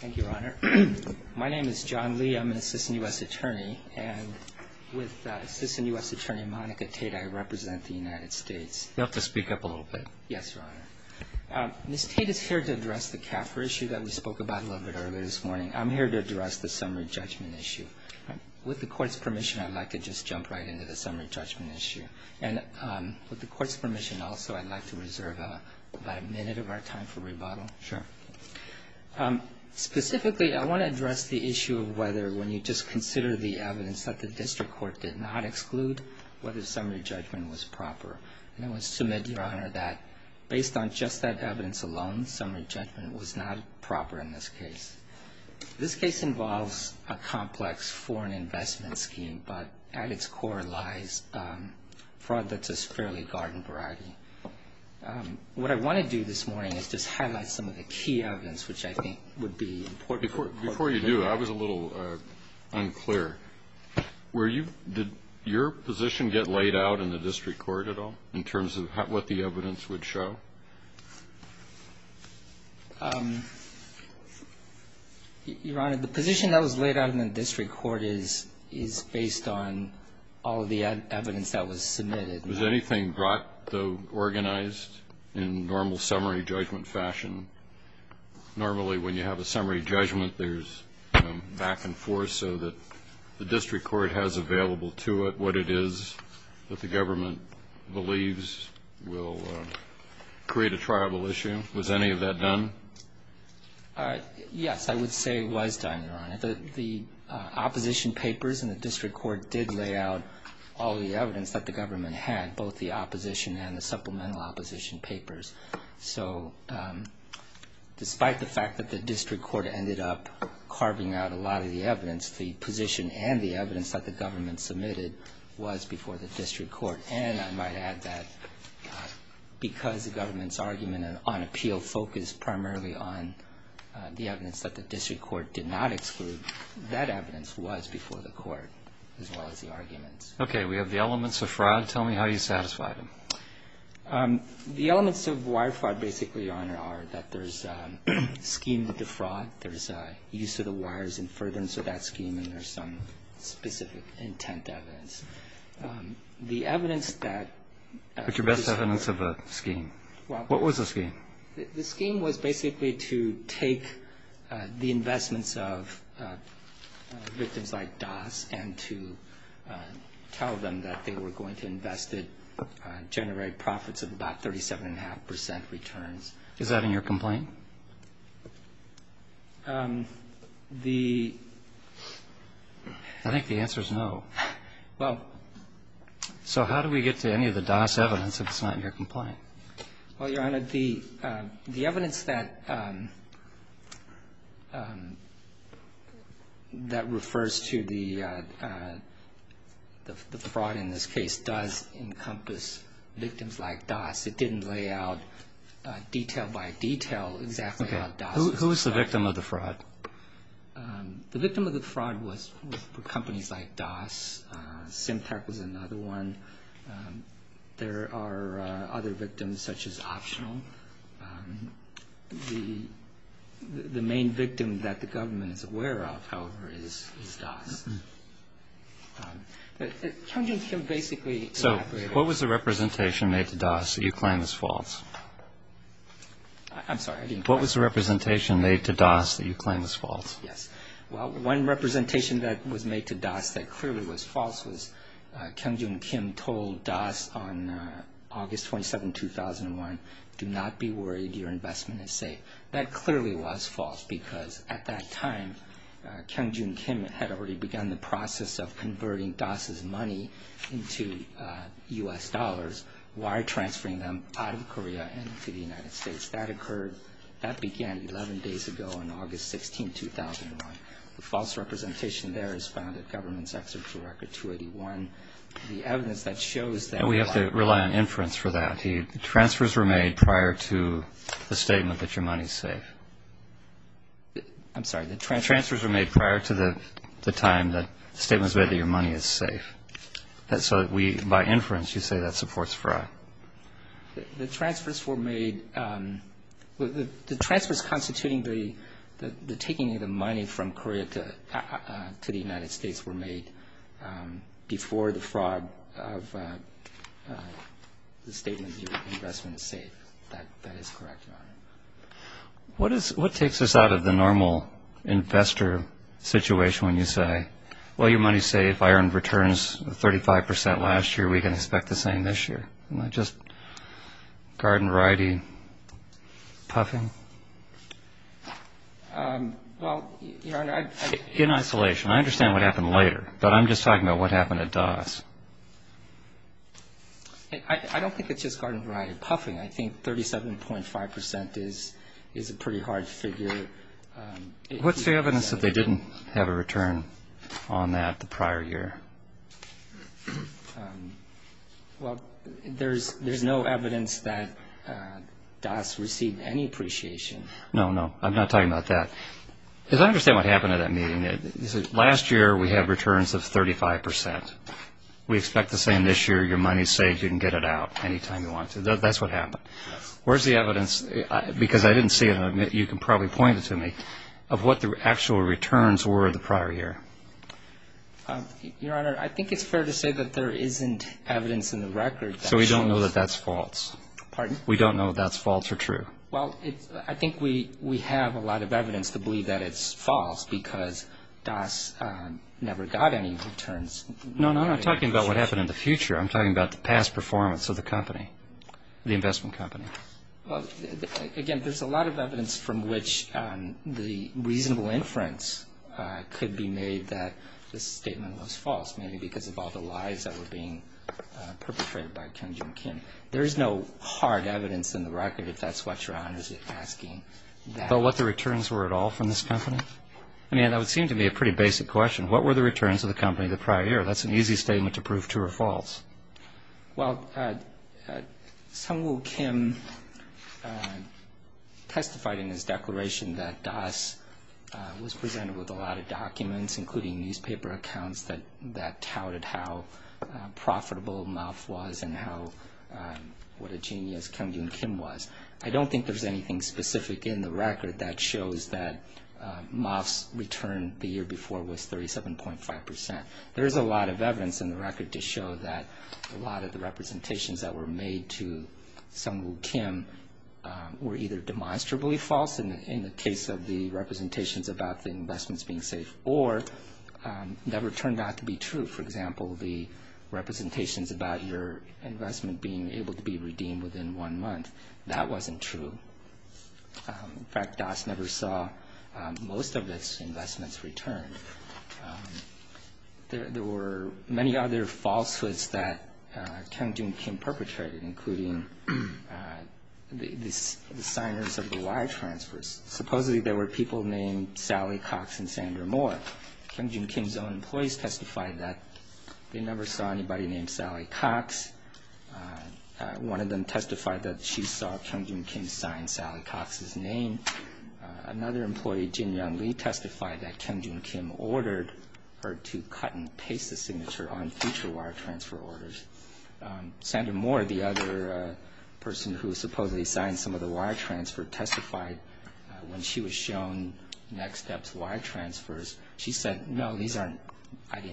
Thank you, Your Honor. My name is John Lee. I'm an Assistant U.S. Attorney, and with Assistant U.S. Attorney Monica Tate, I represent the United States. You'll have to speak up a little bit. Yes, Your Honor. Ms. Tate is here to address the CAFRA issue that we spoke about a little bit earlier this morning. I'm here to address the summary judgment issue. With the Court's permission, I'd like to just jump right into the summary judgment issue. And with the Court's permission also, I'd like to reserve about a minute of our time for rebuttal. Sure. Specifically, I want to address the issue of whether, when you just consider the evidence, that the District Court did not exclude whether summary judgment was proper. And I would submit, Your Honor, that based on just that evidence alone, summary judgment was not proper in this case. This case involves a complex foreign investment scheme, but at its core lies fraud that's a fairly garden variety. What I want to do this morning is just highlight some of the key evidence which I think would be important. Before you do, I was a little unclear. Were you – did your position get laid out in the District Court at all in terms of what the evidence would show? Your Honor, the position that was laid out in the District Court is based on all of the evidence that was submitted. Was anything brought to – organized in normal summary judgment fashion? Normally, when you have a summary judgment, there's back and forth so that the District Court has available to it what it is that the government believes will create a triable issue. Was any of that done? Yes, I would say it was done, Your Honor. The opposition papers in the District Court did lay out all the evidence that the government had, both the opposition and the supplemental opposition papers. So despite the fact that the District Court ended up carving out a lot of the evidence, the position and the evidence that the government submitted was before the District Court. And I might add that because the government's argument on appeal focused primarily on the evidence that the District Court did not exclude, that evidence was before the Court as well as the arguments. Okay, we have the elements of fraud. Tell me how you satisfied them. The elements of wire fraud, basically, Your Honor, are that there's a scheme to defraud. There's a use of the wires in furtherance of that scheme and there's some specific intent evidence. The evidence that... What's your best evidence of a scheme? What was the scheme? The scheme was basically to take the investments of victims like Das and to tell them that they were going to invest it, generate profits of about 37.5 percent returns. Is that in your complaint? The... I think the answer is no. Well... So how do we get to any of the Das evidence if it's not in your complaint? Well, Your Honor, the evidence that refers to the fraud in this case does encompass victims like Das. It didn't lay out detail by detail exactly how Das... The victim of the fraud was for companies like Das. Symtech was another one. There are other victims such as Optional. The main victim that the government is aware of, however, is Das. Hyunjoon Kim basically elaborated... So what was the representation made to Das that you claim is false? I'm sorry, I didn't quite... What was the representation made to Das that you claim is false? Yes. Well, one representation that was made to Das that clearly was false was Hyunjoon Kim told Das on August 27, 2001, do not be worried, your investment is safe. That clearly was false because at that time Hyunjoon Kim had already begun the process of converting Das' money into U.S. dollars. Why transferring them out of Korea and to the United States? That occurred... That began 11 days ago on August 16, 2001. The false representation there is found in Government's Executive Record 281. The evidence that shows that... And we have to rely on inference for that. The transfers were made prior to the statement that your money is safe. I'm sorry, the transfers... The transfers were made prior to the time that the statement was made that your money is safe. So we, by inference, you say that supports fraud. The transfers were made... The transfers constituting the taking of the money from Korea to the United States were made before the fraud of the statement that your investment is safe. That is correct, Your Honor. What takes us out of the normal investor situation when you say, Well, your money is safe. I earned returns of 35 percent last year. We can expect the same this year. Am I just garden-variety puffing? Well, Your Honor, I... In isolation. I understand what happened later, but I'm just talking about what happened to Das. I don't think it's just garden-variety puffing. I think 37.5 percent is a pretty hard figure. What's the evidence that they didn't have a return on that the prior year? Well, there's no evidence that Das received any appreciation. No, no. I'm not talking about that. Because I understand what happened at that meeting. Last year we had returns of 35 percent. We expect the same this year. Your money is safe. You can get it out any time you want to. That's what happened. Where's the evidence? Because I didn't see it, and you can probably point it to me, of what the actual returns were the prior year. Your Honor, I think it's fair to say that there isn't evidence in the record that shows... So we don't know that that's false. Pardon? We don't know that that's false or true. Well, I think we have a lot of evidence to believe that it's false because Das never got any returns. No, no. I'm talking about what happened in the future. I'm talking about the past performance of the company, the investment company. Well, again, there's a lot of evidence from which the reasonable inference could be made that this statement was false, maybe because of all the lies that were being perpetrated by Kyungjoon Kim. There is no hard evidence in the record, if that's what Your Honor is asking. So what the returns were at all from this company? I mean, that would seem to be a pretty basic question. What were the returns of the company the prior year? That's an easy statement to prove true or false. Well, Sungwoo Kim testified in his declaration that Das was presented with a lot of documents, including newspaper accounts that touted how profitable MOF was and what a genius Kyungjoon Kim was. I don't think there's anything specific in the record that shows that MOF's return the year before was 37.5%. There is a lot of evidence in the record to show that a lot of the representations that were made to Sungwoo Kim were either demonstrably false in the case of the representations about the investments being safe or never turned out to be true. For example, the representations about your investment being able to be redeemed within one month, that wasn't true. In fact, Das never saw most of his investments returned. There were many other falsehoods that Kyungjoon Kim perpetrated, including the signers of the wire transfers. Supposedly, there were people named Sally Cox and Sandra Moore. Kyungjoon Kim's own employees testified that they never saw anybody named Sally Cox. One of them testified that she saw Kyungjoon Kim sign Sally Cox's name. Another employee, Jin Young Lee, testified that Kyungjoon Kim ordered her to cut and paste the signature on future wire transfer orders. Sandra Moore, the other person who supposedly signed some of the wire transfers, testified when she was shown Next Step's wire transfers. She said, no, I didn't sign these wire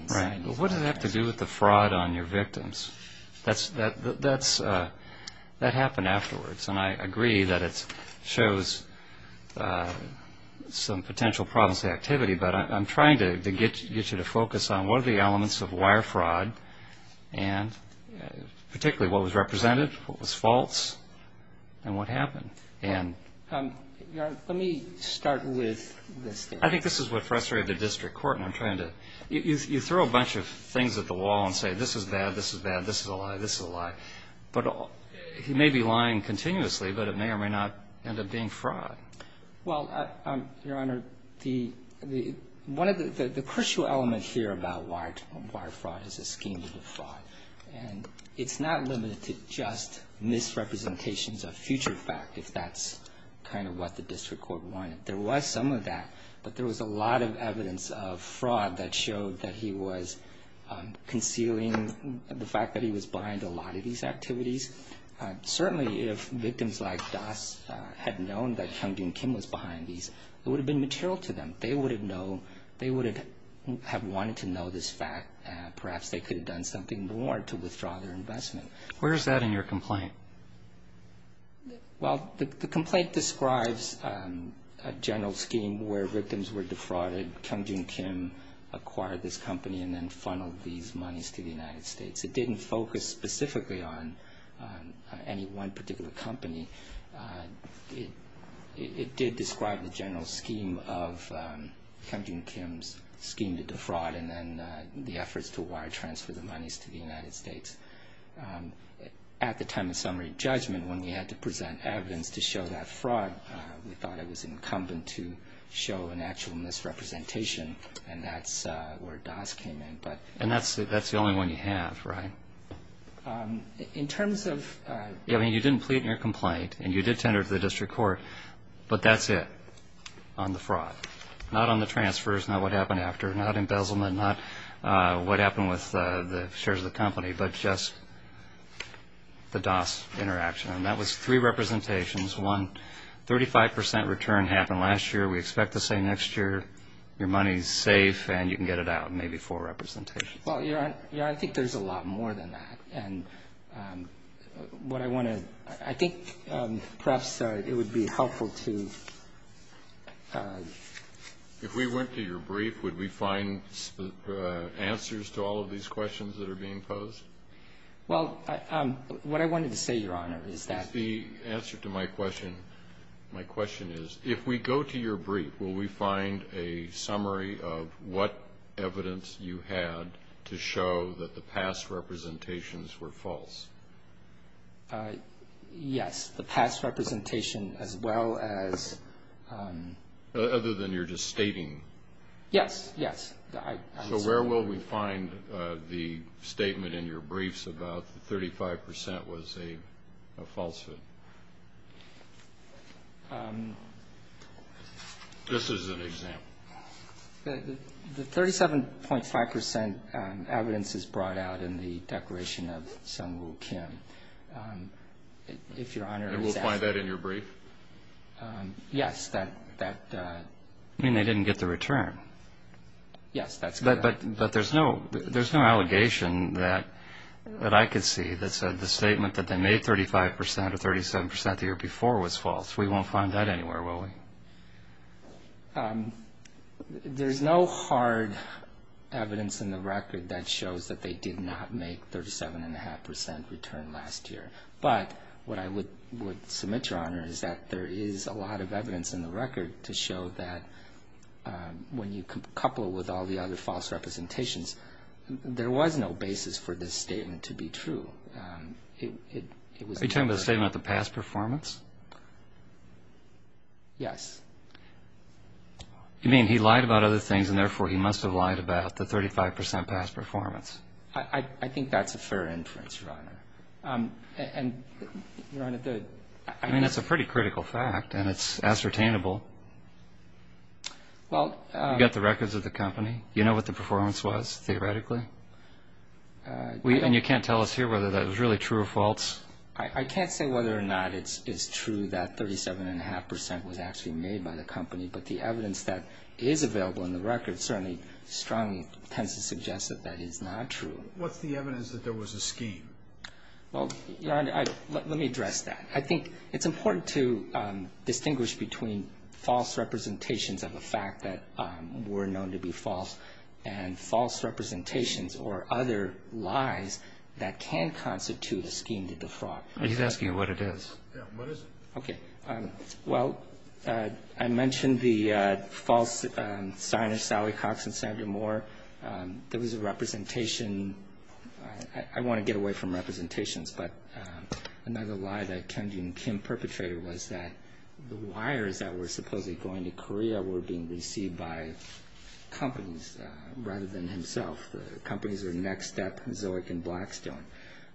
transfers. What does that have to do with the fraud on your victims? That happened afterwards, and I agree that it shows some potential problems with activity, but I'm trying to get you to focus on what are the elements of wire fraud, and particularly what was represented, what was false, and what happened. Let me start with this. I think this is what frustrated the district court, and I'm trying to – you throw a bunch of things at the wall and say, this is bad, this is bad, this is a lie, this is a lie. But he may be lying continuously, but it may or may not end up being fraud. Well, Your Honor, the – one of the – the crucial element here about wire fraud is the scheme of the fraud. And it's not limited to just misrepresentations of future fact, if that's kind of what the district court wanted. There was some of that, but there was a lot of evidence of fraud that showed that he was concealing the fact that he was behind a lot of these activities. Certainly, if victims like Das had known that Hyun Bin Kim was behind these, it would have been material to them. They would have known – they would have wanted to know this fact. Perhaps they could have done something more to withdraw their investment. Where is that in your complaint? Well, the complaint describes a general scheme where victims were defrauded. Hyun Bin Kim acquired this company and then funneled these monies to the United States. It didn't focus specifically on any one particular company. It did describe the general scheme of Hyun Bin Kim's scheme to defraud and then the efforts to wire transfer the monies to the United States. At the time of summary judgment, when we had to present evidence to show that fraud, we thought it was incumbent to show an actual misrepresentation, and that's where Das came in. And that's the only one you have, right? In terms of – I mean, you didn't plead in your complaint, and you did tender to the district court, but that's it on the fraud. Not on the transfers, not what happened after, not embezzlement, not what happened with the shares of the company, but just the Das interaction. And that was three representations. One, 35 percent return happened last year. We expect to say next year your money is safe and you can get it out, maybe four representations. Well, Your Honor, I think there's a lot more than that. And what I want to – I think perhaps it would be helpful to – If we went to your brief, would we find answers to all of these questions that are being posed? Well, what I wanted to say, Your Honor, is that – The answer to my question – my question is, if we go to your brief, will we find a summary of what evidence you had to show that the past representations were false? Yes, the past representation as well as – Other than you're just stating. Yes, yes. So where will we find the statement in your briefs about the 35 percent was a falsehood? This is an example. The 37.5 percent evidence is brought out in the declaration of Sung Woo Kim. If Your Honor is – And we'll find that in your brief? Yes, that – You mean they didn't get the return? Yes, that's correct. But there's no allegation that I could see that said the statement that they made 35 percent or 37 percent the year before was false. We won't find that anywhere, will we? There's no hard evidence in the record that shows that they did not make 37.5 percent return last year. But what I would submit, Your Honor, is that there is a lot of evidence in the record to show that when you couple with all the other false representations, there was no basis for this statement to be true. Are you talking about the statement of the past performance? Yes. You mean he lied about other things, and therefore he must have lied about the 35 percent past performance. I think that's a fair inference, Your Honor. And, Your Honor, the – I mean, that's a pretty critical fact, and it's ascertainable. Well – You got the records of the company. You know what the performance was, theoretically? And you can't tell us here whether that was really true or false? I can't say whether or not it's true that 37.5 percent was actually made by the company, but the evidence that is available in the record certainly strongly tends to suggest that that is not true. What's the evidence that there was a scheme? Well, Your Honor, let me address that. I think it's important to distinguish between false representations of a fact that were known to be false and false representations or other lies that can constitute a scheme to defraud. He's asking you what it is. Yes. What is it? Okay. Well, I mentioned the false signers, Sally Cox and Sandra Moore. There was a representation – I want to get away from representations, but another lie that Kyeong-jin Kim perpetrated was that the wires that were supposedly going to Korea were being received by companies rather than himself. The companies were Next Step, Zoic, and Blackstone.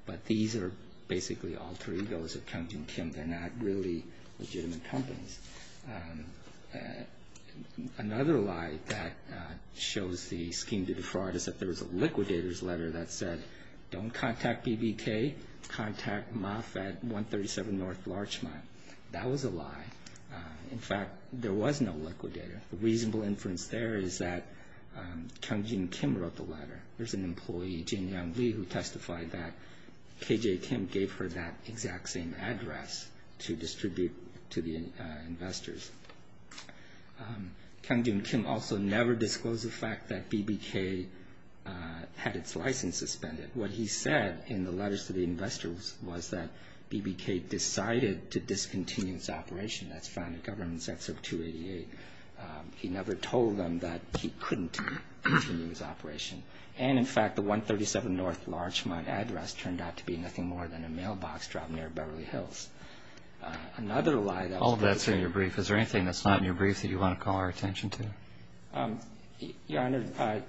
But these are basically alter egos of Kyeong-jin Kim. They're not really legitimate companies. Another lie that shows the scheme to defraud is that there was a liquidator's letter that said, don't contact BBK, contact MAF at 137 North Larchmont. That was a lie. In fact, there was no liquidator. The reasonable inference there is that Kyeong-jin Kim wrote the letter. There's an employee, Jin Young Lee, who testified that KJ Kim gave her that exact same address to distribute to the investors. Kyeong-jin Kim also never disclosed the fact that BBK had its license suspended. What he said in the letters to the investors was that BBK decided to discontinue its operation. That's found in Government Excerpt 288. He never told them that he couldn't continue his operation. And, in fact, the 137 North Larchmont address turned out to be nothing more than a mailbox dropped near Beverly Hills. All of that's in your brief. Is there anything that's not in your brief that you want to call our attention to? Your Honor,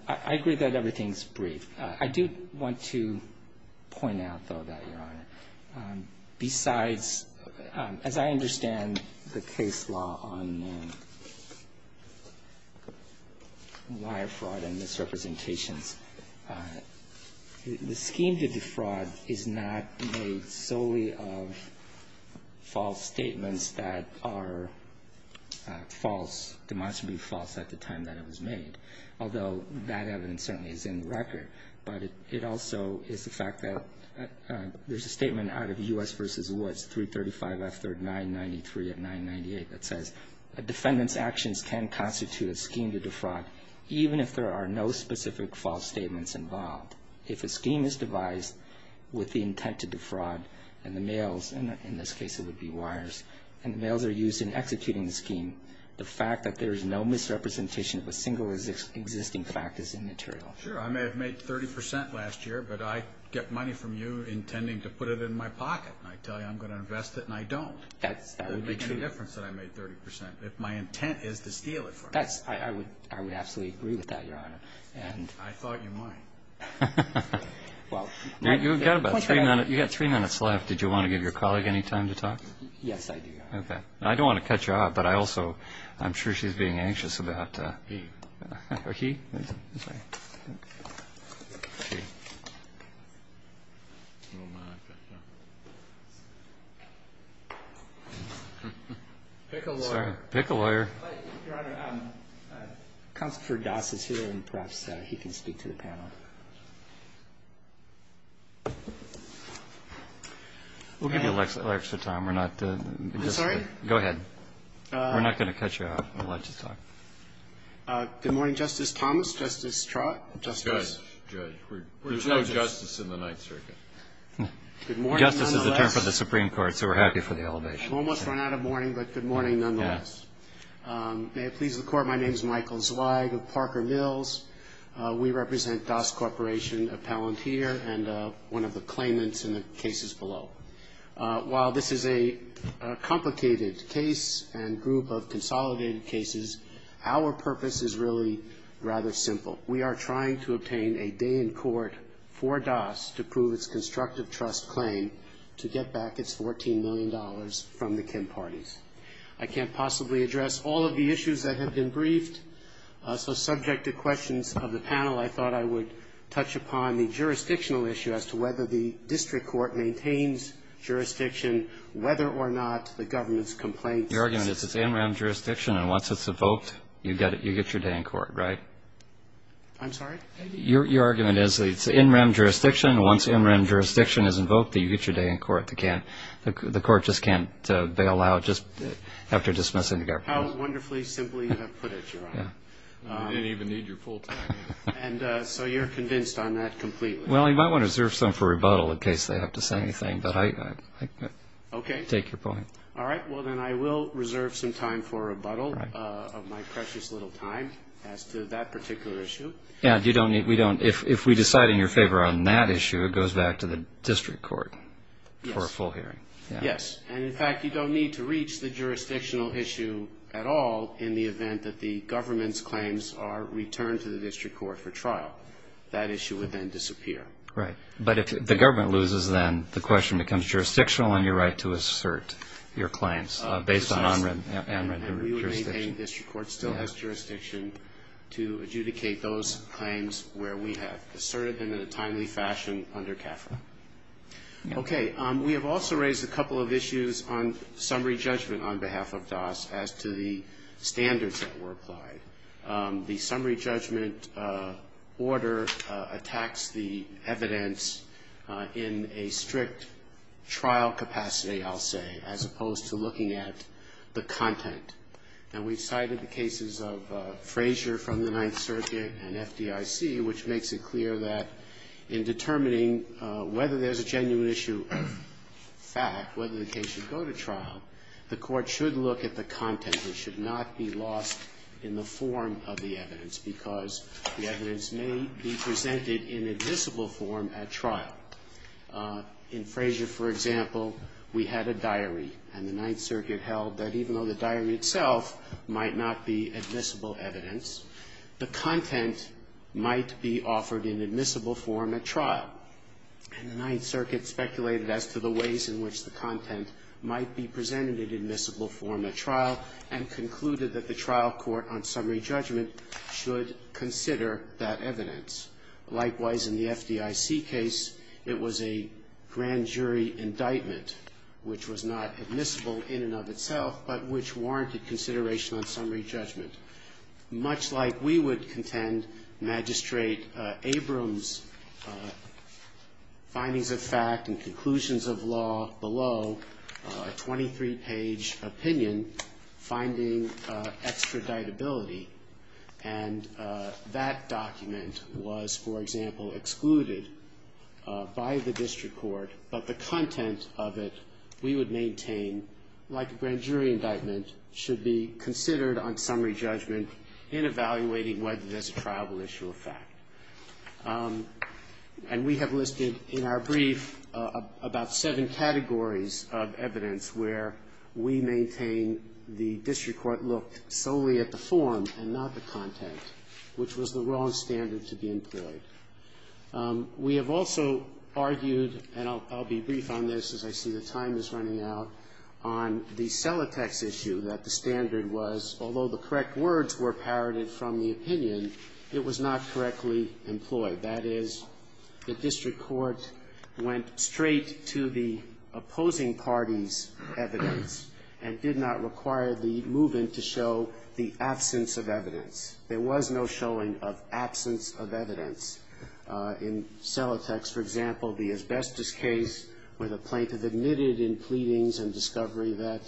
I agree that everything's brief. I do want to point out, though, that, Your Honor, besides, as I understand the case law on wire fraud and misrepresentations, the scheme to defraud is not made solely of false statements that are false, demonstrably false at the time that it was made, although that evidence certainly is in the record. But it also is the fact that there's a statement out of U.S. v. Woods, 335 F3rd 993 at 998, that says a defendant's actions can constitute a scheme to defraud, even if there are no specific false statements involved. If a scheme is devised with the intent to defraud, and the mails, and in this case it would be wires, and the mails are used in executing the scheme, the fact that there is no misrepresentation of a single existing fact is immaterial. Sure, I may have made 30 percent last year, but I get money from you intending to put it in my pocket, and I tell you I'm going to invest it, and I don't. That would be true. It wouldn't make any difference that I made 30 percent, if my intent is to steal it from you. I would absolutely agree with that, Your Honor. I thought you might. You've got about three minutes left. Yes, I do, Your Honor. Okay. I don't want to cut you off, but I also am sure she's being anxious about... He. Oh, he? I'm sorry. Pick a lawyer. Pick a lawyer. Your Honor, Counselor Doss is here, and perhaps he can speak to the panel. We'll give you extra time. We're not going to... I'm sorry? Go ahead. We're not going to cut you off. We'll let you talk. Good morning, Justice Thomas, Justice Trott, Justice... Judge. Judge. We're judges. There's no justice in the Ninth Circuit. Good morning, nonetheless. Justice is a term for the Supreme Court, so we're happy for the elevation. Almost run out of morning, but good morning, nonetheless. Yes. May it please the Court, my name is Michael Zweig of Parker Mills. We represent Doss Corporation, a palantir, and one of the claimants in the cases below. While this is a complicated case and group of consolidated cases, our purpose is really rather simple. We are trying to obtain a day in court for Doss to prove its constructive trust claim to get back its $14 million from the Kim parties. I can't possibly address all of the issues that have been briefed, so subject to questions of the panel, I thought I would touch upon the jurisdictional issue as to whether the district court maintains jurisdiction, whether or not the government's complaints... Your argument is it's in-rem jurisdiction, and once it's invoked, you get your day in court, right? I'm sorry? Your argument is it's in-rem jurisdiction, and once in-rem jurisdiction is invoked, you get your day in court. The court just can't bail out just after dismissing the government. How wonderfully simply you have put it, Your Honor. I didn't even need your full time, Your Honor. So you're convinced on that completely? Well, you might want to reserve some for rebuttal in case they have to say anything, but I take your point. Okay. All right. Well, then I will reserve some time for rebuttal of my precious little time as to that particular issue. Yeah. If we decide in your favor on that issue, it goes back to the district court for a full hearing. Yes. And, in fact, you don't need to reach the jurisdictional issue at all in the event that the government's claims are returned to the district court for trial. That issue would then disappear. Right. But if the government loses, then the question becomes jurisdictional and your right to assert your claims based on on-rem and-rem jurisdiction. And we would maintain the district court still has jurisdiction to adjudicate those claims where we have asserted them in a timely fashion under CAFRA. Okay. We have also raised a couple of issues on summary judgment on behalf of DAS as to the standards that were applied. The summary judgment order attacks the evidence in a strict trial capacity, I'll say, as opposed to looking at the content. And we've cited the cases of Frazier from the Ninth Circuit and FDIC, which makes it clear that in determining whether there's a genuine issue of fact, whether the case should go to trial, the court should look at the content. It should not be lost in the form of the evidence because the evidence may be presented in admissible form at trial. In Frazier, for example, we had a diary. And the Ninth Circuit held that even though the diary itself might not be admissible evidence, the content might be offered in admissible form at trial. And the Ninth Circuit speculated as to the ways in which the content might be presented in admissible form at trial and concluded that the trial court on summary judgment should consider that evidence. Likewise, in the FDIC case, it was a grand jury indictment, which was not admissible in and of itself, but which warranted consideration on summary judgment. Much like we would contend Magistrate Abrams' findings of fact and conclusions of law below, a 23-page opinion finding extraditability. And that document was, for example, excluded by the district court, but the content of it we would maintain, like a grand jury indictment, should be considered on summary judgment in evaluating whether there's a trialable issue of fact. And we have listed in our brief about seven categories of evidence where we maintain the district court looked solely at the form and not the content, which was the wrong standard to be employed. We have also argued, and I'll be brief on this as I see the time is running out, on the Celotex issue that the standard was, although the correct words were parroted from the opinion, it was not correctly employed. That is, the district court went straight to the opposing party's evidence and did not require the move-in to show the absence of evidence. There was no showing of absence of evidence. In Celotex, for example, the asbestos case where the plaintiff admitted in pleadings and discovery that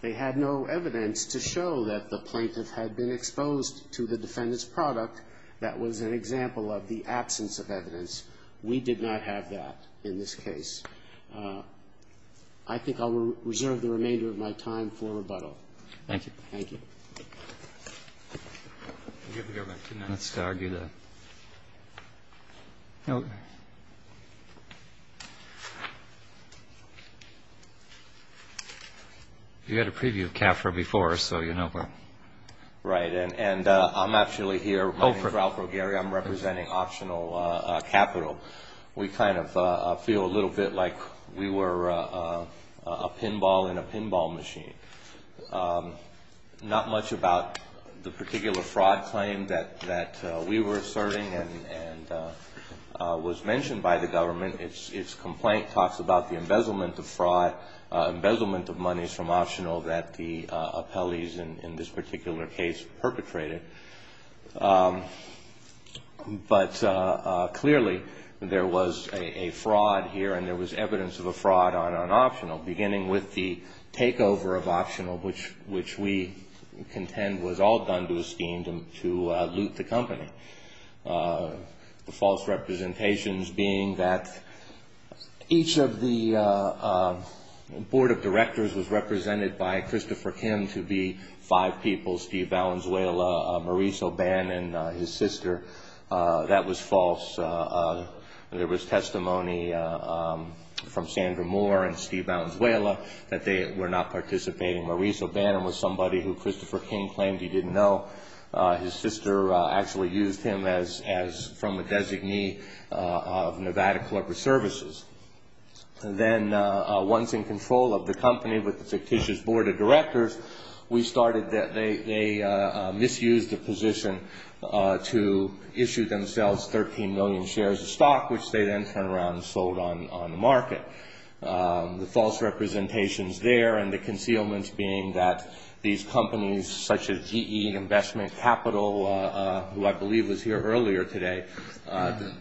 they had no evidence to show that the plaintiff had been exposed to the defendant's product, that was an example of the absence of evidence. We did not have that in this case. I think I'll reserve the remainder of my time for rebuttal. Thank you. Thank you. You had a preview of CAFRA before, so you know. Right, and I'm actually here. My name is Ralph Rogeri. I'm representing Optional Capital. We kind of feel a little bit like we were a pinball in a pinball machine. Not much about the particular fraud claim that we were serving and was mentioned by the government. Its complaint talks about the embezzlement of fraud, embezzlement of monies from Optional that the appellees in this particular case perpetrated. But clearly there was a fraud here, and there was evidence of a fraud on Optional, beginning with the takeover of Optional, which we contend was all done to a scheme to loot the company. The false representations being that each of the board of directors was represented by Christopher Kim pretending to be five people, Steve Valenzuela, Maurice O'Bannon, his sister. That was false. There was testimony from Sandra Moore and Steve Valenzuela that they were not participating. Maurice O'Bannon was somebody who Christopher Kim claimed he didn't know. His sister actually used him as from a designee of Nevada Corporate Services. Then once in control of the company with the fictitious board of directors, they misused the position to issue themselves 13 million shares of stock, which they then turned around and sold on the market. The false representations there and the concealments being that these companies such as GE Investment Capital, who I believe was here earlier today,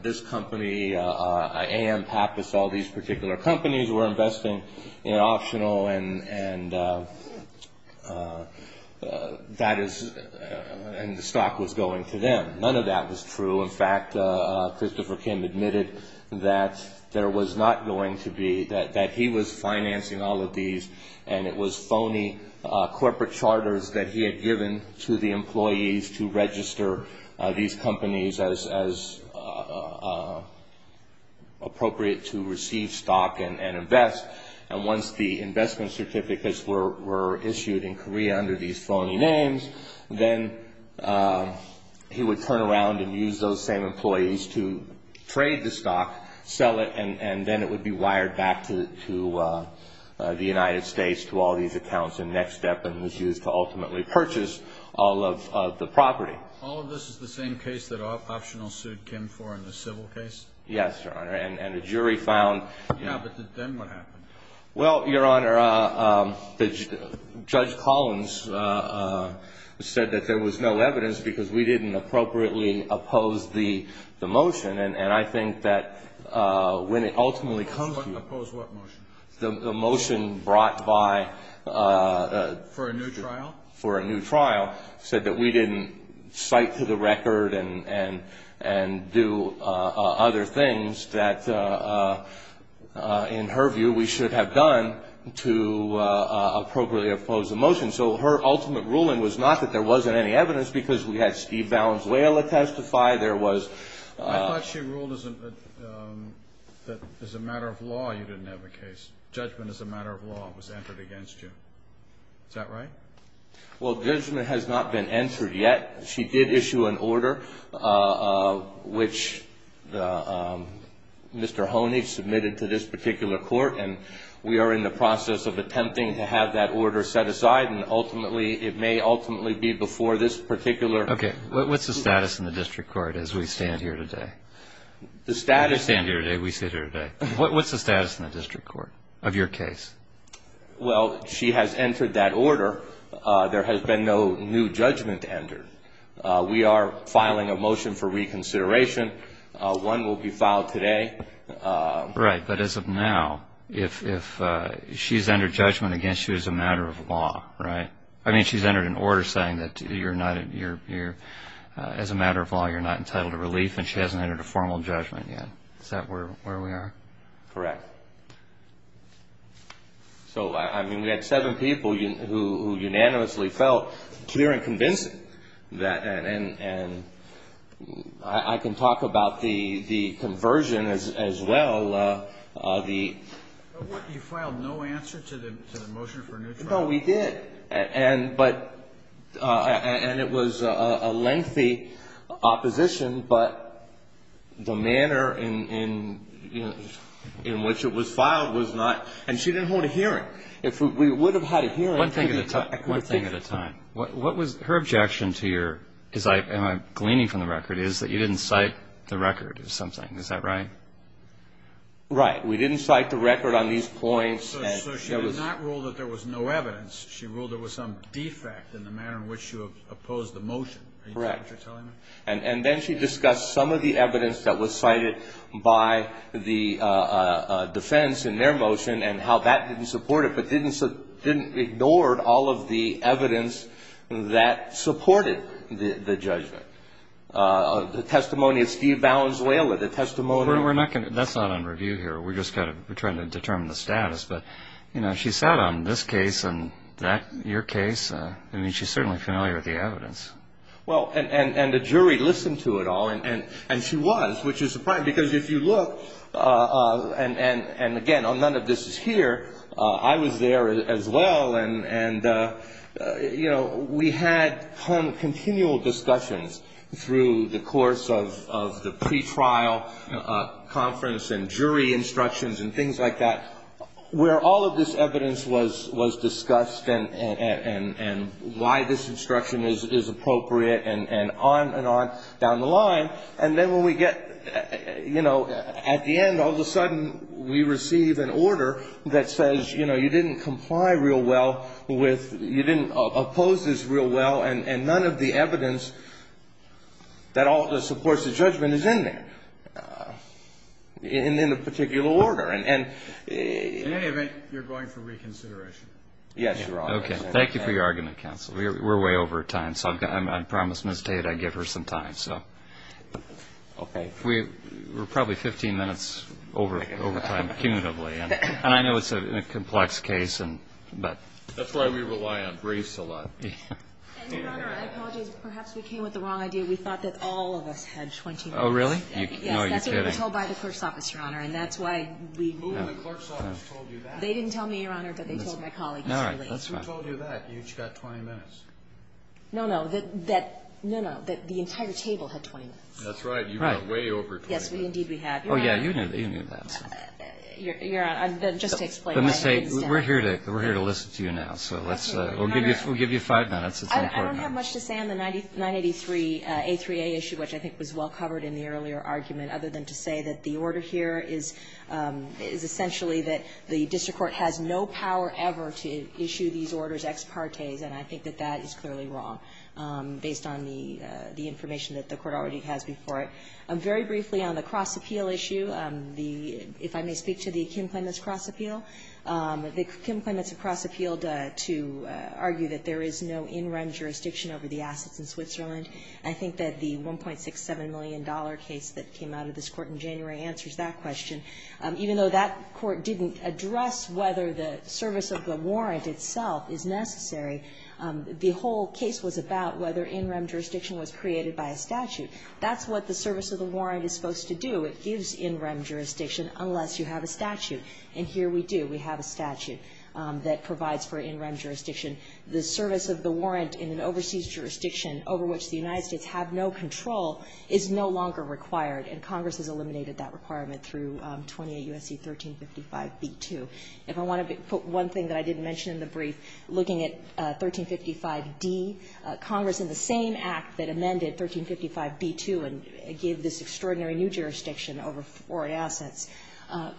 this company, AM Pappas, all these particular companies were investing in Optional, and the stock was going to them. None of that was true. In fact, Christopher Kim admitted that he was financing all of these, and it was phony corporate charters that he had given to the employees to register these companies as appropriate to receive stock and invest. Once the investment certificates were issued in Korea under these phony names, then he would turn around and use those same employees to trade the stock, sell it, and then it would be wired back to the United States to all these accounts in Next Step and was used to ultimately purchase all of the property. All of this is the same case that Optional sued Kim for in the civil case? Yes, Your Honor, and the jury found- Yeah, but then what happened? Well, Your Honor, Judge Collins said that there was no evidence because we didn't appropriately oppose the motion, and I think that when it ultimately comes to you- Oppose what motion? The motion brought by- For a new trial? For a new trial, said that we didn't cite to the record and do other things that, in her view, we should have done to appropriately oppose the motion. So her ultimate ruling was not that there wasn't any evidence because we had Steve Valenzuela testify. I thought she ruled that, as a matter of law, you didn't have a case. Judgment as a matter of law was entered against you. Is that right? Well, judgment has not been entered yet. She did issue an order, which Mr. Honig submitted to this particular court, and we are in the process of attempting to have that order set aside, and it may ultimately be before this particular- Okay. What's the status in the district court as we stand here today? The status- We stand here today. We sit here today. What's the status in the district court of your case? Well, she has entered that order. There has been no new judgment entered. We are filing a motion for reconsideration. One will be filed today. Right. But as of now, if she's entered judgment against you as a matter of law, right? I mean, she's entered an order saying that, as a matter of law, you're not entitled to relief, and she hasn't entered a formal judgment yet. Is that where we are? Correct. So, I mean, we had seven people who unanimously felt clear and convincing, and I can talk about the conversion as well. You filed no answer to the motion for a new judgment? No, we did, and it was a lengthy opposition, but the manner in which it was filed was not-and she didn't hold a hearing. If we would have had a hearing- One thing at a time. What was her objection to your-am I gleaning from the record-is that you didn't cite the record or something. Is that right? Right. We didn't cite the record on these points. So she did not rule that there was no evidence. She ruled there was some defect in the manner in which you opposed the motion. Correct. Do you know what you're telling me? And then she discussed some of the evidence that was cited by the defense in their motion and how that didn't support it, but didn't ignore all of the evidence that supported the judgment. The testimony of Steve Valenzuela, the testimony- That's not on review here. We're just kind of trying to determine the status. But, you know, she sat on this case and your case. I mean, she's certainly familiar with the evidence. Well, and the jury listened to it all, and she was, which is surprising, because if you look-and, again, none of this is here. I was there as well, and, you know, we had continual discussions through the course of the pretrial conference and jury instructions and things like that where all of this evidence was discussed and why this instruction is appropriate and on and on down the line. And then when we get, you know, at the end, all of a sudden we receive an order that says, you know, you didn't oppose this real well, and none of the evidence that all of this supports the judgment is in there, in a particular order. And- In any event, you're going for reconsideration. Yes, Your Honor. Okay. Thank you for your argument, counsel. We're way over time, so I promise Ms. Tate I give her some time, so. Okay. We're probably 15 minutes over time, cumulatively. And I know it's a complex case, but- That's why we rely on briefs a lot. And, Your Honor, I apologize. Perhaps we came with the wrong idea. We thought that all of us had 20 minutes. Oh, really? No, you're kidding. Yes, that's what we were told by the clerk's office, Your Honor, and that's why we- Who in the clerk's office told you that? They didn't tell me, Your Honor, but they told my colleagues. All right. That's fine. Who told you that? You each got 20 minutes. No, no. That- No, no. That the entire table had 20 minutes. That's right. You got way over 20 minutes. Yes, indeed we had. Your Honor- Oh, yeah. You knew that. Your Honor, just to explain- But, Ms. A, we're here to listen to you now, so let's- Thank you, Your Honor. We'll give you five minutes. It's important. I don't have much to say on the 983A3A issue, which I think was well covered in the earlier argument, other than to say that the order here is essentially that the district court has no power ever to issue these orders ex parte, and I think that that is clearly wrong, based on the information that the court already has before it. Very briefly on the cross-appeal issue, if I may speak to the Kim Clements cross-appeal, the Kim Clements cross-appealed to argue that there is no in-rem jurisdiction over the assets in Switzerland. I think that the $1.67 million case that came out of this court in January answers that question. Even though that court didn't address whether the service of the warrant itself is necessary, the whole case was about whether in-rem jurisdiction was created by a statute. That's what the service of the warrant is supposed to do. It gives in-rem jurisdiction unless you have a statute. And here we do. We have a statute that provides for in-rem jurisdiction. The service of the warrant in an overseas jurisdiction over which the United States have no control is no longer required, and Congress has eliminated that requirement through 28 U.S.C. 1355b2. If I want to put one thing that I didn't mention in the brief, looking at 1355d, Congress in the same act that amended 1355b2 and gave this extraordinary new jurisdiction over foreign assets,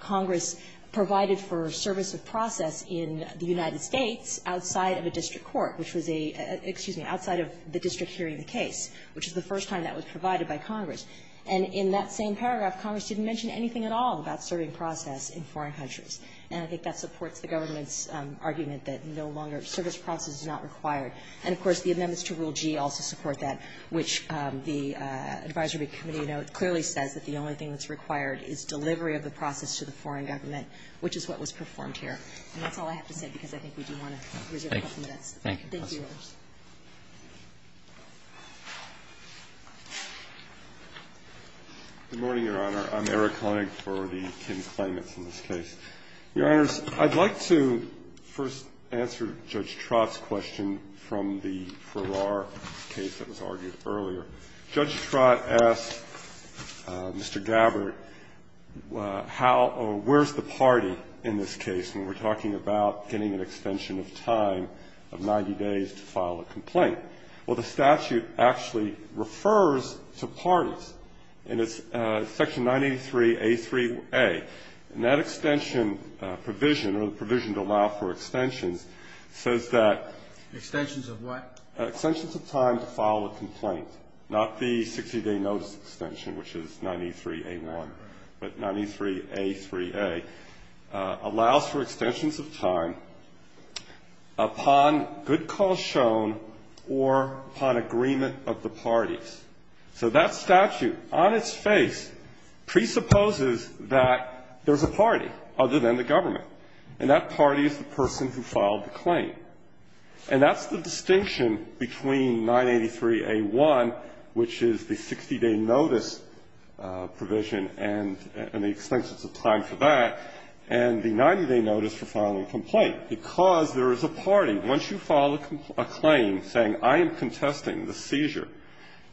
Congress provided for service of process in the United States outside of a district court, which was a — excuse me, outside of the district hearing the case, which is the first time that was provided by Congress. And in that same paragraph, Congress didn't mention anything at all about serving process in foreign countries. And I think that supports the government's argument that no longer — service process is not required. And, of course, the amendments to Rule G also support that, which the advisory committee note clearly says that the only thing that's required is delivery of the process to the foreign government, which is what was performed here. And that's all I have to say because I think we do want to reserve a couple minutes. Thank you. Roberts. Good morning, Your Honor. I'm Eric Honig for the Kin Claimants in this case. Your Honors, I'd like to first answer Judge Trott's question from the Farrar case that was argued earlier. Judge Trott asked Mr. Gabbard how or where's the party in this case when we're talking about getting an extension of time of 90 days to file a complaint. Well, the statute actually refers to parties, and it's Section 983a3a. And that extension provision, or the provision to allow for extensions, says that Extensions of what? Extensions of time to file a complaint, not the 60-day notice extension, which is 93a1, but 93a3a, allows for extensions of time upon good cause shown or upon agreement of the parties. So that statute on its face presupposes that there's a party other than the government, and that party is the person who filed the claim. And that's the distinction between 983a1, which is the 60-day notice provision and the extensions of time for that, and the 90-day notice for filing a complaint, because there is a party. And once you file a claim saying, I am contesting the seizure,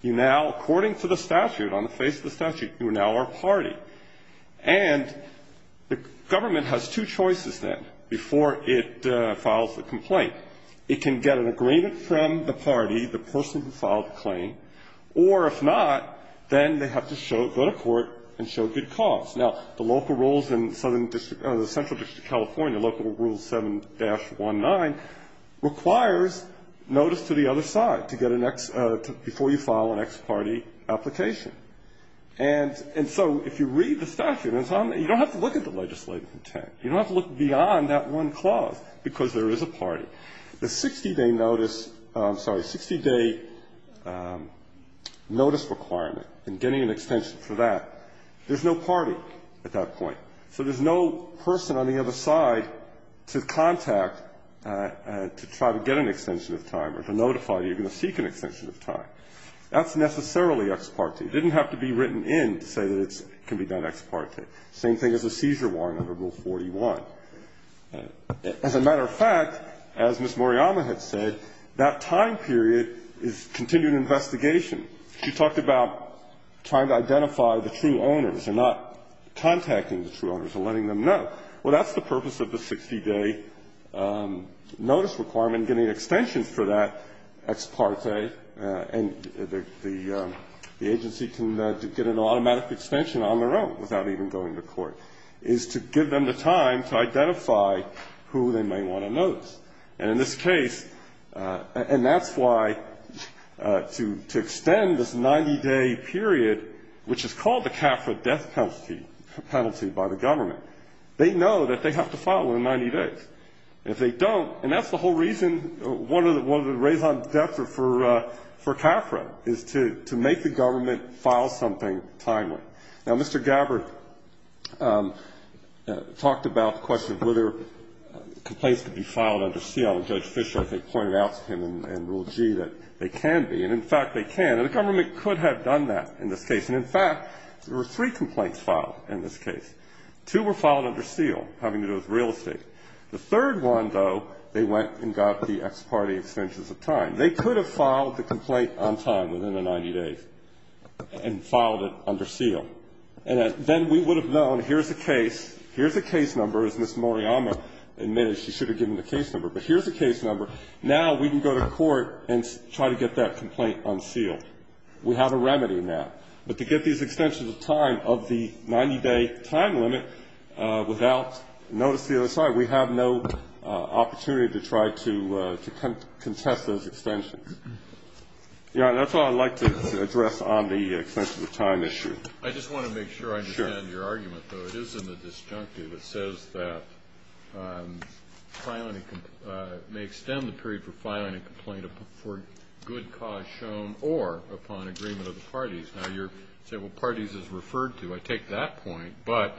you now, according to the statute, on the face of the statute, you are now our party. And the government has two choices then before it files the complaint. It can get an agreement from the party, the person who filed the claim, or if not, then they have to go to court and show good cause. Now, the local rules in Southern District or the Central District of California, Local Rule 7-19, requires notice to the other side to get an ex to before you file an ex parte application. And so if you read the statute, you don't have to look at the legislative intent. You don't have to look beyond that one clause, because there is a party. The 60-day notice, I'm sorry, 60-day notice requirement and getting an extension for that, there's no party at that point. So there's no person on the other side to contact to try to get an extension of time or to notify that you're going to seek an extension of time. That's necessarily ex parte. It didn't have to be written in to say that it can be done ex parte. Same thing as a seizure warrant under Rule 41. As a matter of fact, as Ms. Moriyama had said, that time period is continued investigation. She talked about trying to identify the true owners and not contacting the true owners and letting them know. Well, that's the purpose of the 60-day notice requirement, getting an extension for that ex parte, and the agency can get an automatic extension on their own without even going to court, is to give them the time to identify who they may want to notice. And in this case, and that's why, to extend this 90-day period, which is called the CAFRA death penalty by the government, they know that they have to file it in 90 days. If they don't, and that's the whole reason one of the raison d'etre for CAFRA is to make the government file something timely. Now, Mr. Gabbard talked about the question of whether complaints could be filed under seal. Judge Fischer, I think, pointed out to him in Rule G that they can be. And, in fact, they can. And the government could have done that in this case. And, in fact, there were three complaints filed in this case. Two were filed under seal, having to do with real estate. The third one, though, they went and got the ex parte extensions of time. They could have filed the complaint on time, within the 90 days, and filed it under seal. And then we would have known here's a case, here's a case number, as Ms. Moriyama admitted, she should have given the case number. But here's a case number. Now we can go to court and try to get that complaint unsealed. We have a remedy now. But to get these extensions of time of the 90-day time limit without notice to the other side, we have no opportunity to try to contest those extensions. Your Honor, that's all I'd like to address on the extensions of time issue. I just want to make sure I understand your argument, though. It is in the disjunctive. It says that filing may extend the period for filing a complaint for good cause shown or upon agreement of the parties. Now you're saying, well, parties is referred to. I take that point. But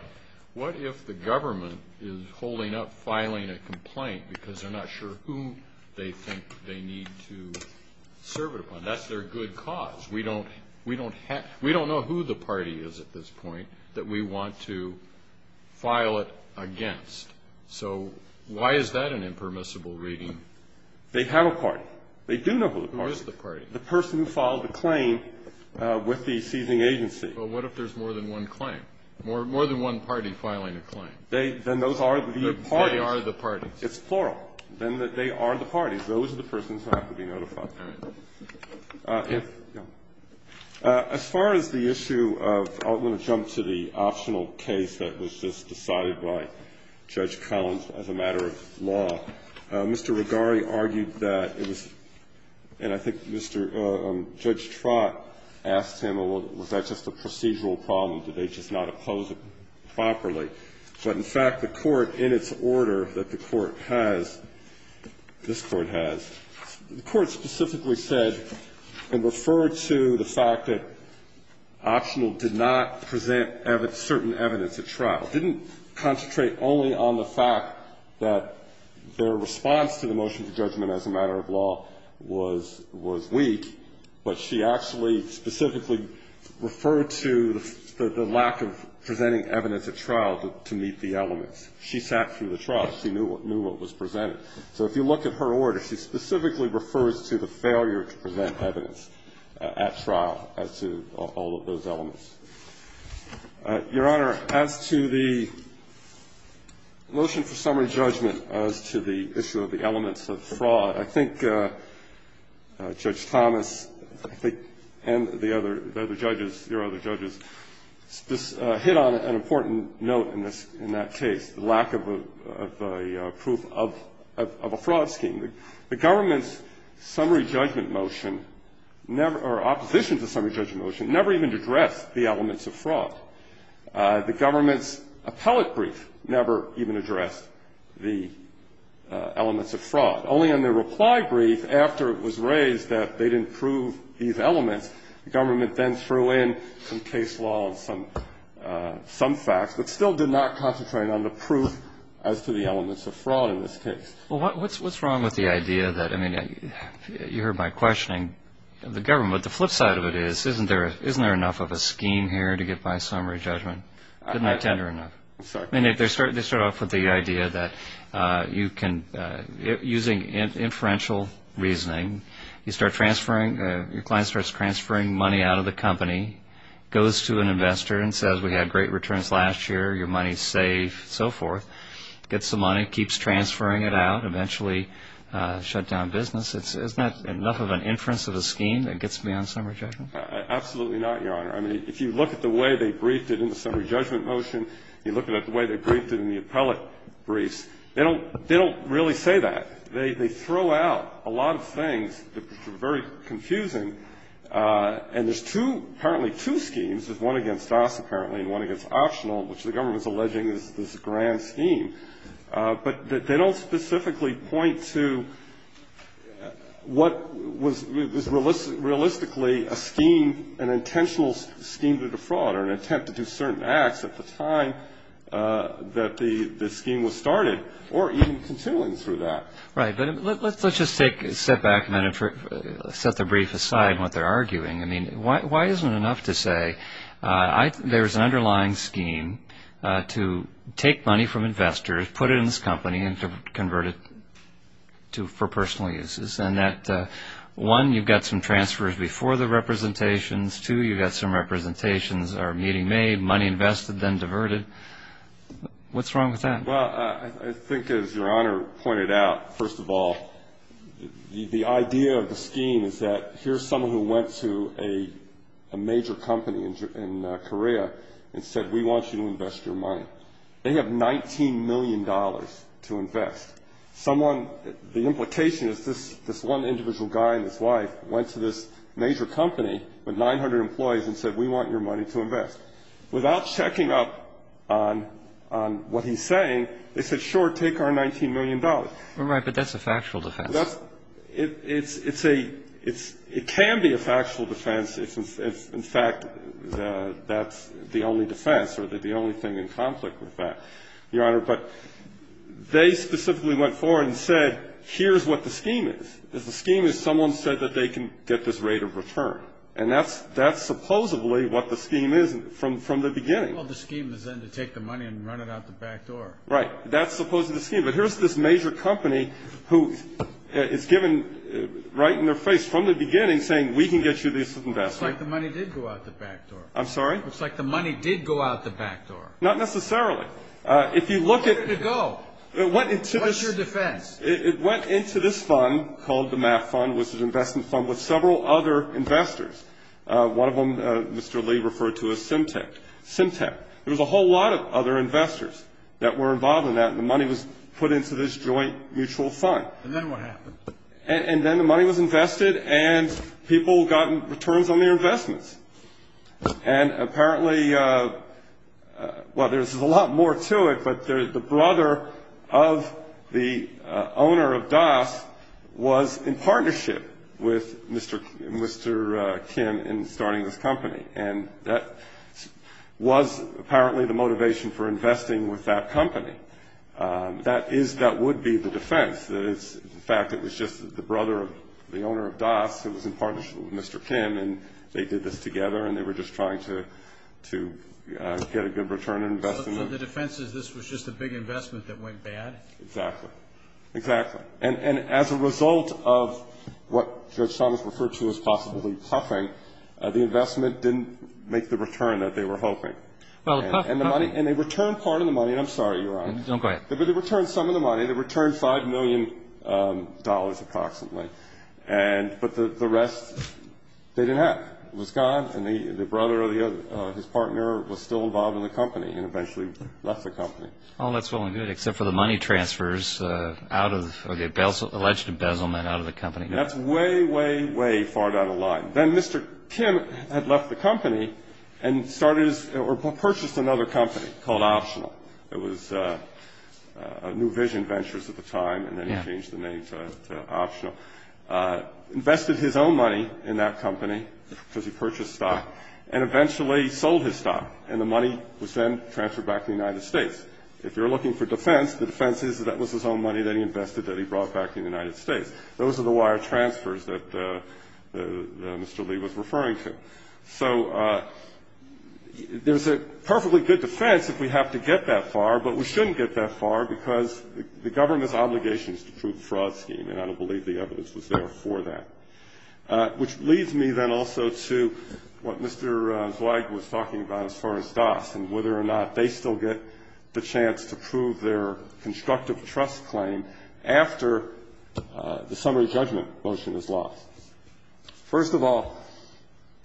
what if the government is holding up filing a complaint because they're not sure who they think they need to serve it upon? That's their good cause. We don't know who the party is at this point that we want to file it against. So why is that an impermissible reading? They have a party. They do know who the party is. Who is the party? The person who filed the claim with the seizing agency. But what if there's more than one claim, more than one party filing a claim? Then those are the parties. They are the parties. It's plural. Then they are the parties. Those are the persons who have to be notified. All right. Yes. Go ahead. As far as the issue of the optional case that was just decided by Judge Collins as a matter of law, Mr. Rigari argued that it was, and I think Judge Trott asked him, well, was that just a procedural problem? Did they just not oppose it properly? But in fact, the Court, in its order that the Court has, this Court has, the Court specifically said and referred to the fact that optional did not present certain evidence at trial, didn't concentrate only on the fact that their response to the motion for judgment as a matter of law was weak, but she actually specifically referred to the lack of presenting evidence at trial to meet the elements. She sat through the trial. She knew what was presented. So if you look at her order, she specifically refers to the failure to present evidence at trial as to all of those elements. Your Honor, as to the motion for summary judgment as to the issue of the elements of fraud, I think Judge Thomas and the other judges, your other judges, hit on an important note in this, in that case, the lack of a proof of a fraud scheme. The government's summary judgment motion never, or opposition to summary judgment motion, never even addressed the elements of fraud. The government's appellate brief never even addressed the elements of fraud. Only on their reply brief, after it was raised that they didn't prove these elements, the government then threw in some case law and some facts, but still did not concentrate on the proof as to the elements of fraud in this case. Well, what's wrong with the idea that, I mean, you heard my questioning of the government, but the flip side of it is, isn't there enough of a scheme here to get by summary judgment? Isn't that tender enough? I'm sorry. I mean, they start off with the idea that you can, using inferential reasoning, you start transferring, your client starts transferring money out of the company, goes to an investor and says, we had great returns last year, your money's safe, so forth, gets the money, keeps transferring it out, eventually shut down business. Isn't that enough of an inference of a scheme that gets beyond summary judgment? Absolutely not, Your Honor. I mean, if you look at the way they briefed it in the summary judgment motion, you look at the way they briefed it in the appellate briefs, they don't really say that. They throw out a lot of things that are very confusing, and there's two, apparently two schemes. There's one against us, apparently, and one against optional, which the government's alleging is this grand scheme. But they don't specifically point to what was realistically a scheme, an intentional scheme to defraud or an attempt to do certain acts at the time that the scheme was started, or even continuing through that. Right, but let's just take a step back a minute, set the brief aside, what they're arguing. I mean, why isn't it enough to say there's an underlying scheme to take money from investors, put it in this company, and to convert it for personal uses, and that one, you've got some transfers before the representations, two, you've got some representations that are meeting made, money invested, then diverted. What's wrong with that? Well, I think as Your Honor pointed out, first of all, the idea of the scheme is that here's someone who went to a major company in Korea and said, we want you to invest your money. They have $19 million to invest. Someone, the implication is this one individual guy and his wife went to this major company with 900 employees and said, we want your money to invest. Without checking up on what he's saying, they said, sure, take our $19 million. Right, but that's a factual defense. It's a ‑‑ it can be a factual defense if, in fact, that's the only defense or the only thing in conflict with that, Your Honor. But they specifically went forward and said, here's what the scheme is. The scheme is someone said that they can get this rate of return. And that's supposedly what the scheme is from the beginning. Well, the scheme is then to take the money and run it out the back door. Right. That's supposedly the scheme. But here's this major company who is given right in their face from the beginning saying, we can get you this investment. It's like the money did go out the back door. I'm sorry? It's like the money did go out the back door. Not necessarily. Where did it go? What's your defense? It went into this fund called the MAF fund, which is an investment fund, with several other investors. One of them, Mr. Lee, referred to as Symtec. Symtec. There was a whole lot of other investors that were involved in that, and the money was put into this joint mutual fund. And then what happened? And then the money was invested, and people got returns on their investments. And apparently, well, there's a lot more to it, but the brother of the owner of Das was in partnership with Mr. Kim in starting this company. And that was apparently the motivation for investing with that company. That would be the defense. In fact, it was just the brother of the owner of Das who was in partnership with Mr. Kim, and they did this together, and they were just trying to get a good return on investment. So the defense is this was just a big investment that went bad? Exactly. Exactly. And as a result of what Judge Thomas referred to as possibly puffing, the investment didn't make the return that they were hoping. And they returned part of the money. And I'm sorry, Your Honor. No, go ahead. They returned some of the money. They returned $5 million approximately. But the rest they didn't have. It was gone, and the brother or his partner was still involved in the company and eventually left the company. All that's well and good, except for the money transfers, the alleged embezzlement out of the company. That's way, way, way far down the line. Then Mr. Kim had left the company and purchased another company called Optional. It was New Vision Ventures at the time, and then he changed the name to Optional. Invested his own money in that company because he purchased stock, and eventually sold his stock, and the money was then transferred back to the United States. If you're looking for defense, the defense is that that was his own money that he invested that he brought back to the United States. Those are the wire transfers that Mr. Lee was referring to. So there's a perfectly good defense if we have to get that far, but we shouldn't get that far because the government's obligation is to prove the fraud scheme, and I don't believe the evidence was there for that. Which leads me then also to what Mr. Zweig was talking about as far as DAS and whether or not they still get the chance to prove their constructive trust claim after the summary judgment motion is lost. First of all,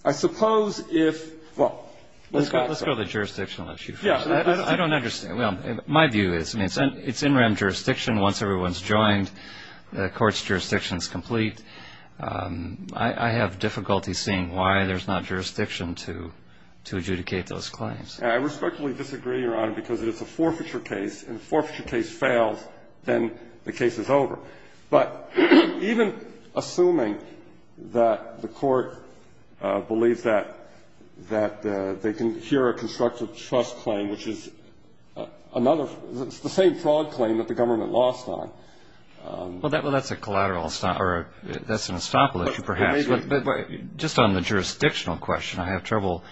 I suppose if, well, let's go outside. Let's go to the jurisdictional issue first. Yeah. I don't understand. My view is, I mean, it's in rem jurisdiction. Once everyone's joined, the court's jurisdiction is complete. I have difficulty seeing why there's not jurisdiction to adjudicate those claims. I respectfully disagree, Your Honor, because it is a forfeiture case, and if the forfeiture case fails, then the case is over. But even assuming that the court believes that they can hear a constructive trust claim, which is another, the same fraud claim that the government lost on. Well, that's a collateral, or that's an estoppel issue perhaps. But just on the jurisdictional question, I have trouble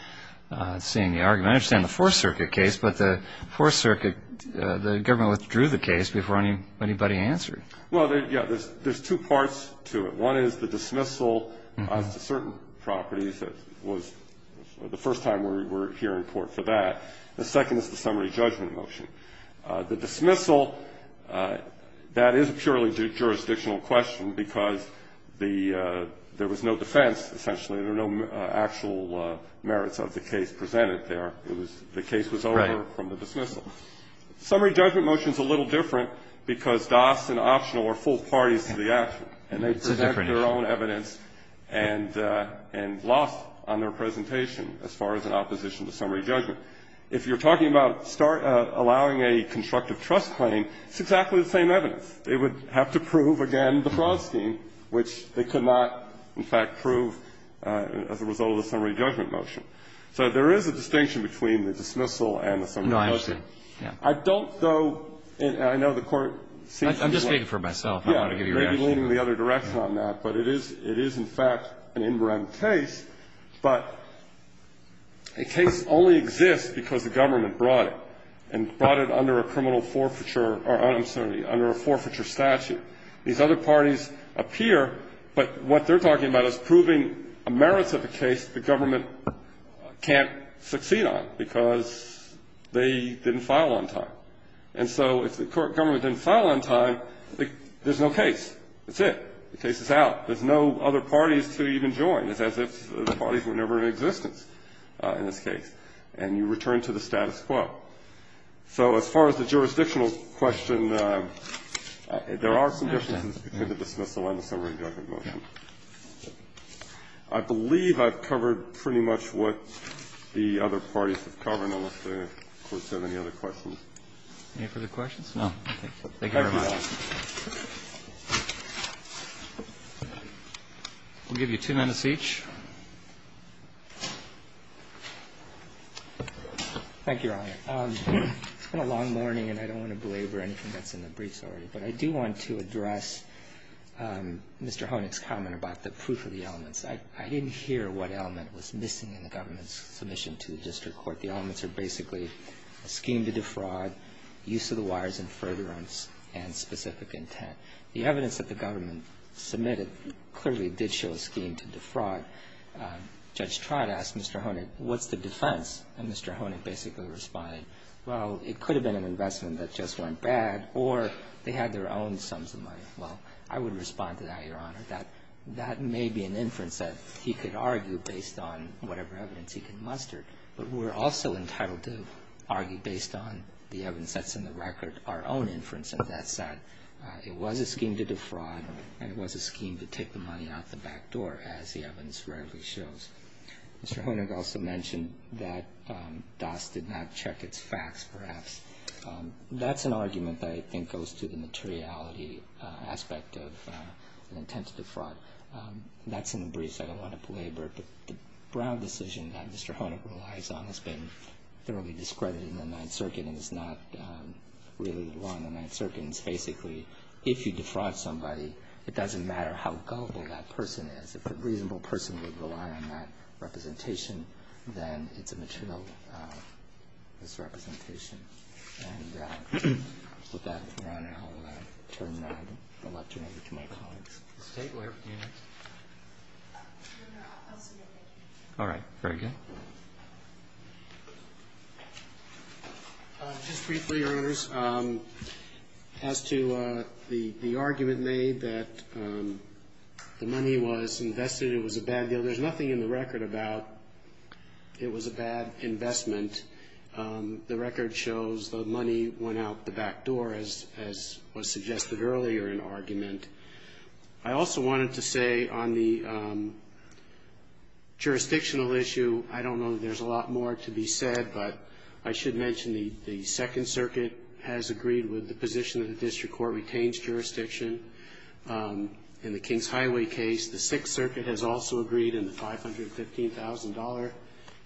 seeing the argument. I understand the Fourth Circuit case, but the Fourth Circuit, the government withdrew the case before anybody answered. Well, yeah. There's two parts to it. One is the dismissal as to certain properties. It was the first time we were here in court for that. The second is the summary judgment motion. The dismissal, that is a purely jurisdictional question because there was no defense, essentially. There were no actual merits of the case presented there. It was the case was over from the dismissal. Summary judgment motion is a little different because DAS and optional are full parties to the action, and they present their own evidence and lost on their presentation as far as an opposition to summary judgment. If you're talking about allowing a constructive trust claim, it's exactly the same evidence. They would have to prove again the fraud scheme, which they could not, in fact, prove as a result of the summary judgment motion. So there is a distinction between the dismissal and the summary judgment motion. I don't, though, and I know the Court sees it as well. I'm just speaking for myself. I don't want to give you reaction. Yeah. You may be leaning in the other direction on that, but it is in fact an in rem case. But a case only exists because the government brought it and brought it under a criminal forfeiture or under a forfeiture statute. These other parties appear, but what they're talking about is proving merits of a case the government can't succeed on because they didn't file on time. And so if the government didn't file on time, there's no case. That's it. The case is out. There's no other parties to even join. It's as if the parties were never in existence in this case. And you return to the status quo. So as far as the jurisdictional question, there are some differences between the dismissal and the summary judgment motion. I believe I've covered pretty much what the other parties have covered, unless the Court has any other questions. Any further questions? No. Thank you very much. We'll give you two minutes each. Thank you, Your Honor. It's been a long morning, and I don't want to belabor anything that's in the briefs of the jury, but I do want to address Mr. Honig's comment about the proof of the elements. I didn't hear what element was missing in the government's submission to the district court. The elements are basically a scheme to defraud, use of the wires in furtherance, and specific intent. The evidence that the government submitted clearly did show a scheme to defraud. Judge Trott asked Mr. Honig, what's the defense? And Mr. Honig basically responded, well, it could have been an investment that just weren't bad, or they had their own sums of money. Well, I would respond to that, Your Honor. That may be an inference that he could argue based on whatever evidence he can muster, but we're also entitled to argue based on the evidence that's in the record our own inference, and that's that it was a scheme to defraud, and it was a scheme to take the money out the back door, as the evidence readily shows. Mr. Honig also mentioned that DAS did not check its facts, perhaps. That's an argument that I think goes to the materiality aspect of an intent to defraud. That's in the briefs. I don't want to belabor it, but the Brown decision that Mr. Honig relies on has been thoroughly discredited in the Ninth Circuit and is not really the law in the Ninth Circuit. It's basically if you defraud somebody, it doesn't matter how gullible that person is. If a reasonable person would rely on that representation, then it's a material misrepresentation. And with that, Your Honor, I'll turn it over to my colleagues. State lawyer, do you have anything? Your Honor, I'll submit my case. All right. Very good. Just briefly, Your Honors, as to the argument made that the money was invested, it was a bad deal. There's nothing in the record about it was a bad investment. The record shows the money went out the back door, as was suggested earlier in argument. I also wanted to say on the jurisdictional issue, I don't know that there's a lot more to be said, but I should mention the Second Circuit has agreed with the position that the district court retains jurisdiction in the Kings Highway case. The Sixth Circuit has also agreed in the $515,000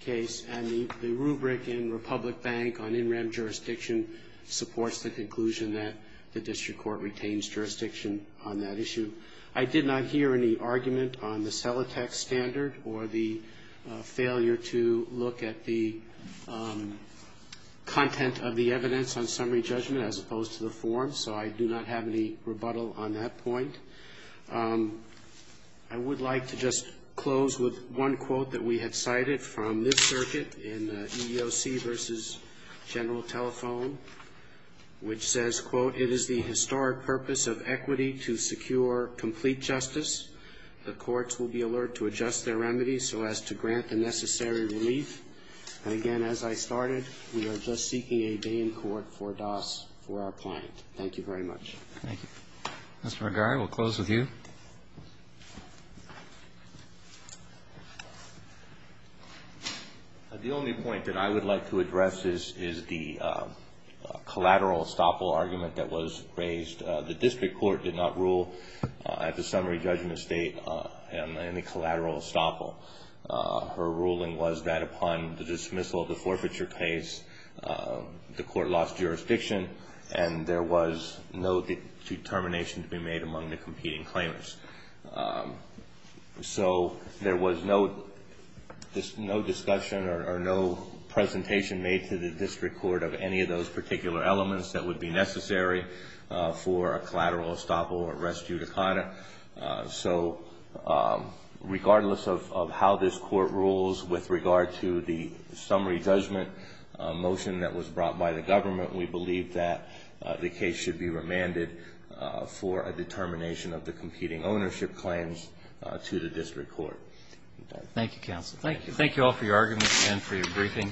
case, and the rubric in Republic Bank on NREM jurisdiction supports the conclusion that the district court retains jurisdiction on that issue. I did not hear any argument on the Celotex standard or the failure to look at the content of the evidence on summary judgment as opposed to the form, so I do not have any rebuttal on that point. I would like to just close with one quote that we have cited from this circuit in the EEOC v. General Telephone, which says, quote, it is the historic purpose of equity to secure complete justice. The courts will be alert to adjust their remedies so as to grant the necessary relief. And again, as I started, we are just seeking a day in court for DAS for our client. Thank you very much. Thank you. Mr. McGarry, we'll close with you. The only point that I would like to address is the collateral estoppel argument that was raised. The district court did not rule at the summary judgment state on any collateral estoppel. Her ruling was that upon the dismissal of the forfeiture case, the court lost jurisdiction and there was no determination to be made among the competing claimants. So there was no discussion or no presentation made to the district court of any of those particular elements that would be necessary for a collateral estoppel or res judicata. So regardless of how this court rules with regard to the summary judgment motion that was brought by the government, we believe that the case should be remanded for a determination of the competing ownership claims to the district court. Thank you, counsel. Thank you. Thank you all for your arguments and for your briefing.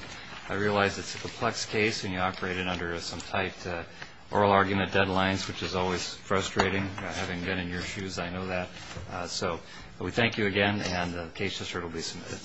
I realize it's a complex case and you operated under some tight oral argument deadlines, which is always frustrating. I haven't been in your shoes, I know that. So we thank you again and the case dissert will be submitted.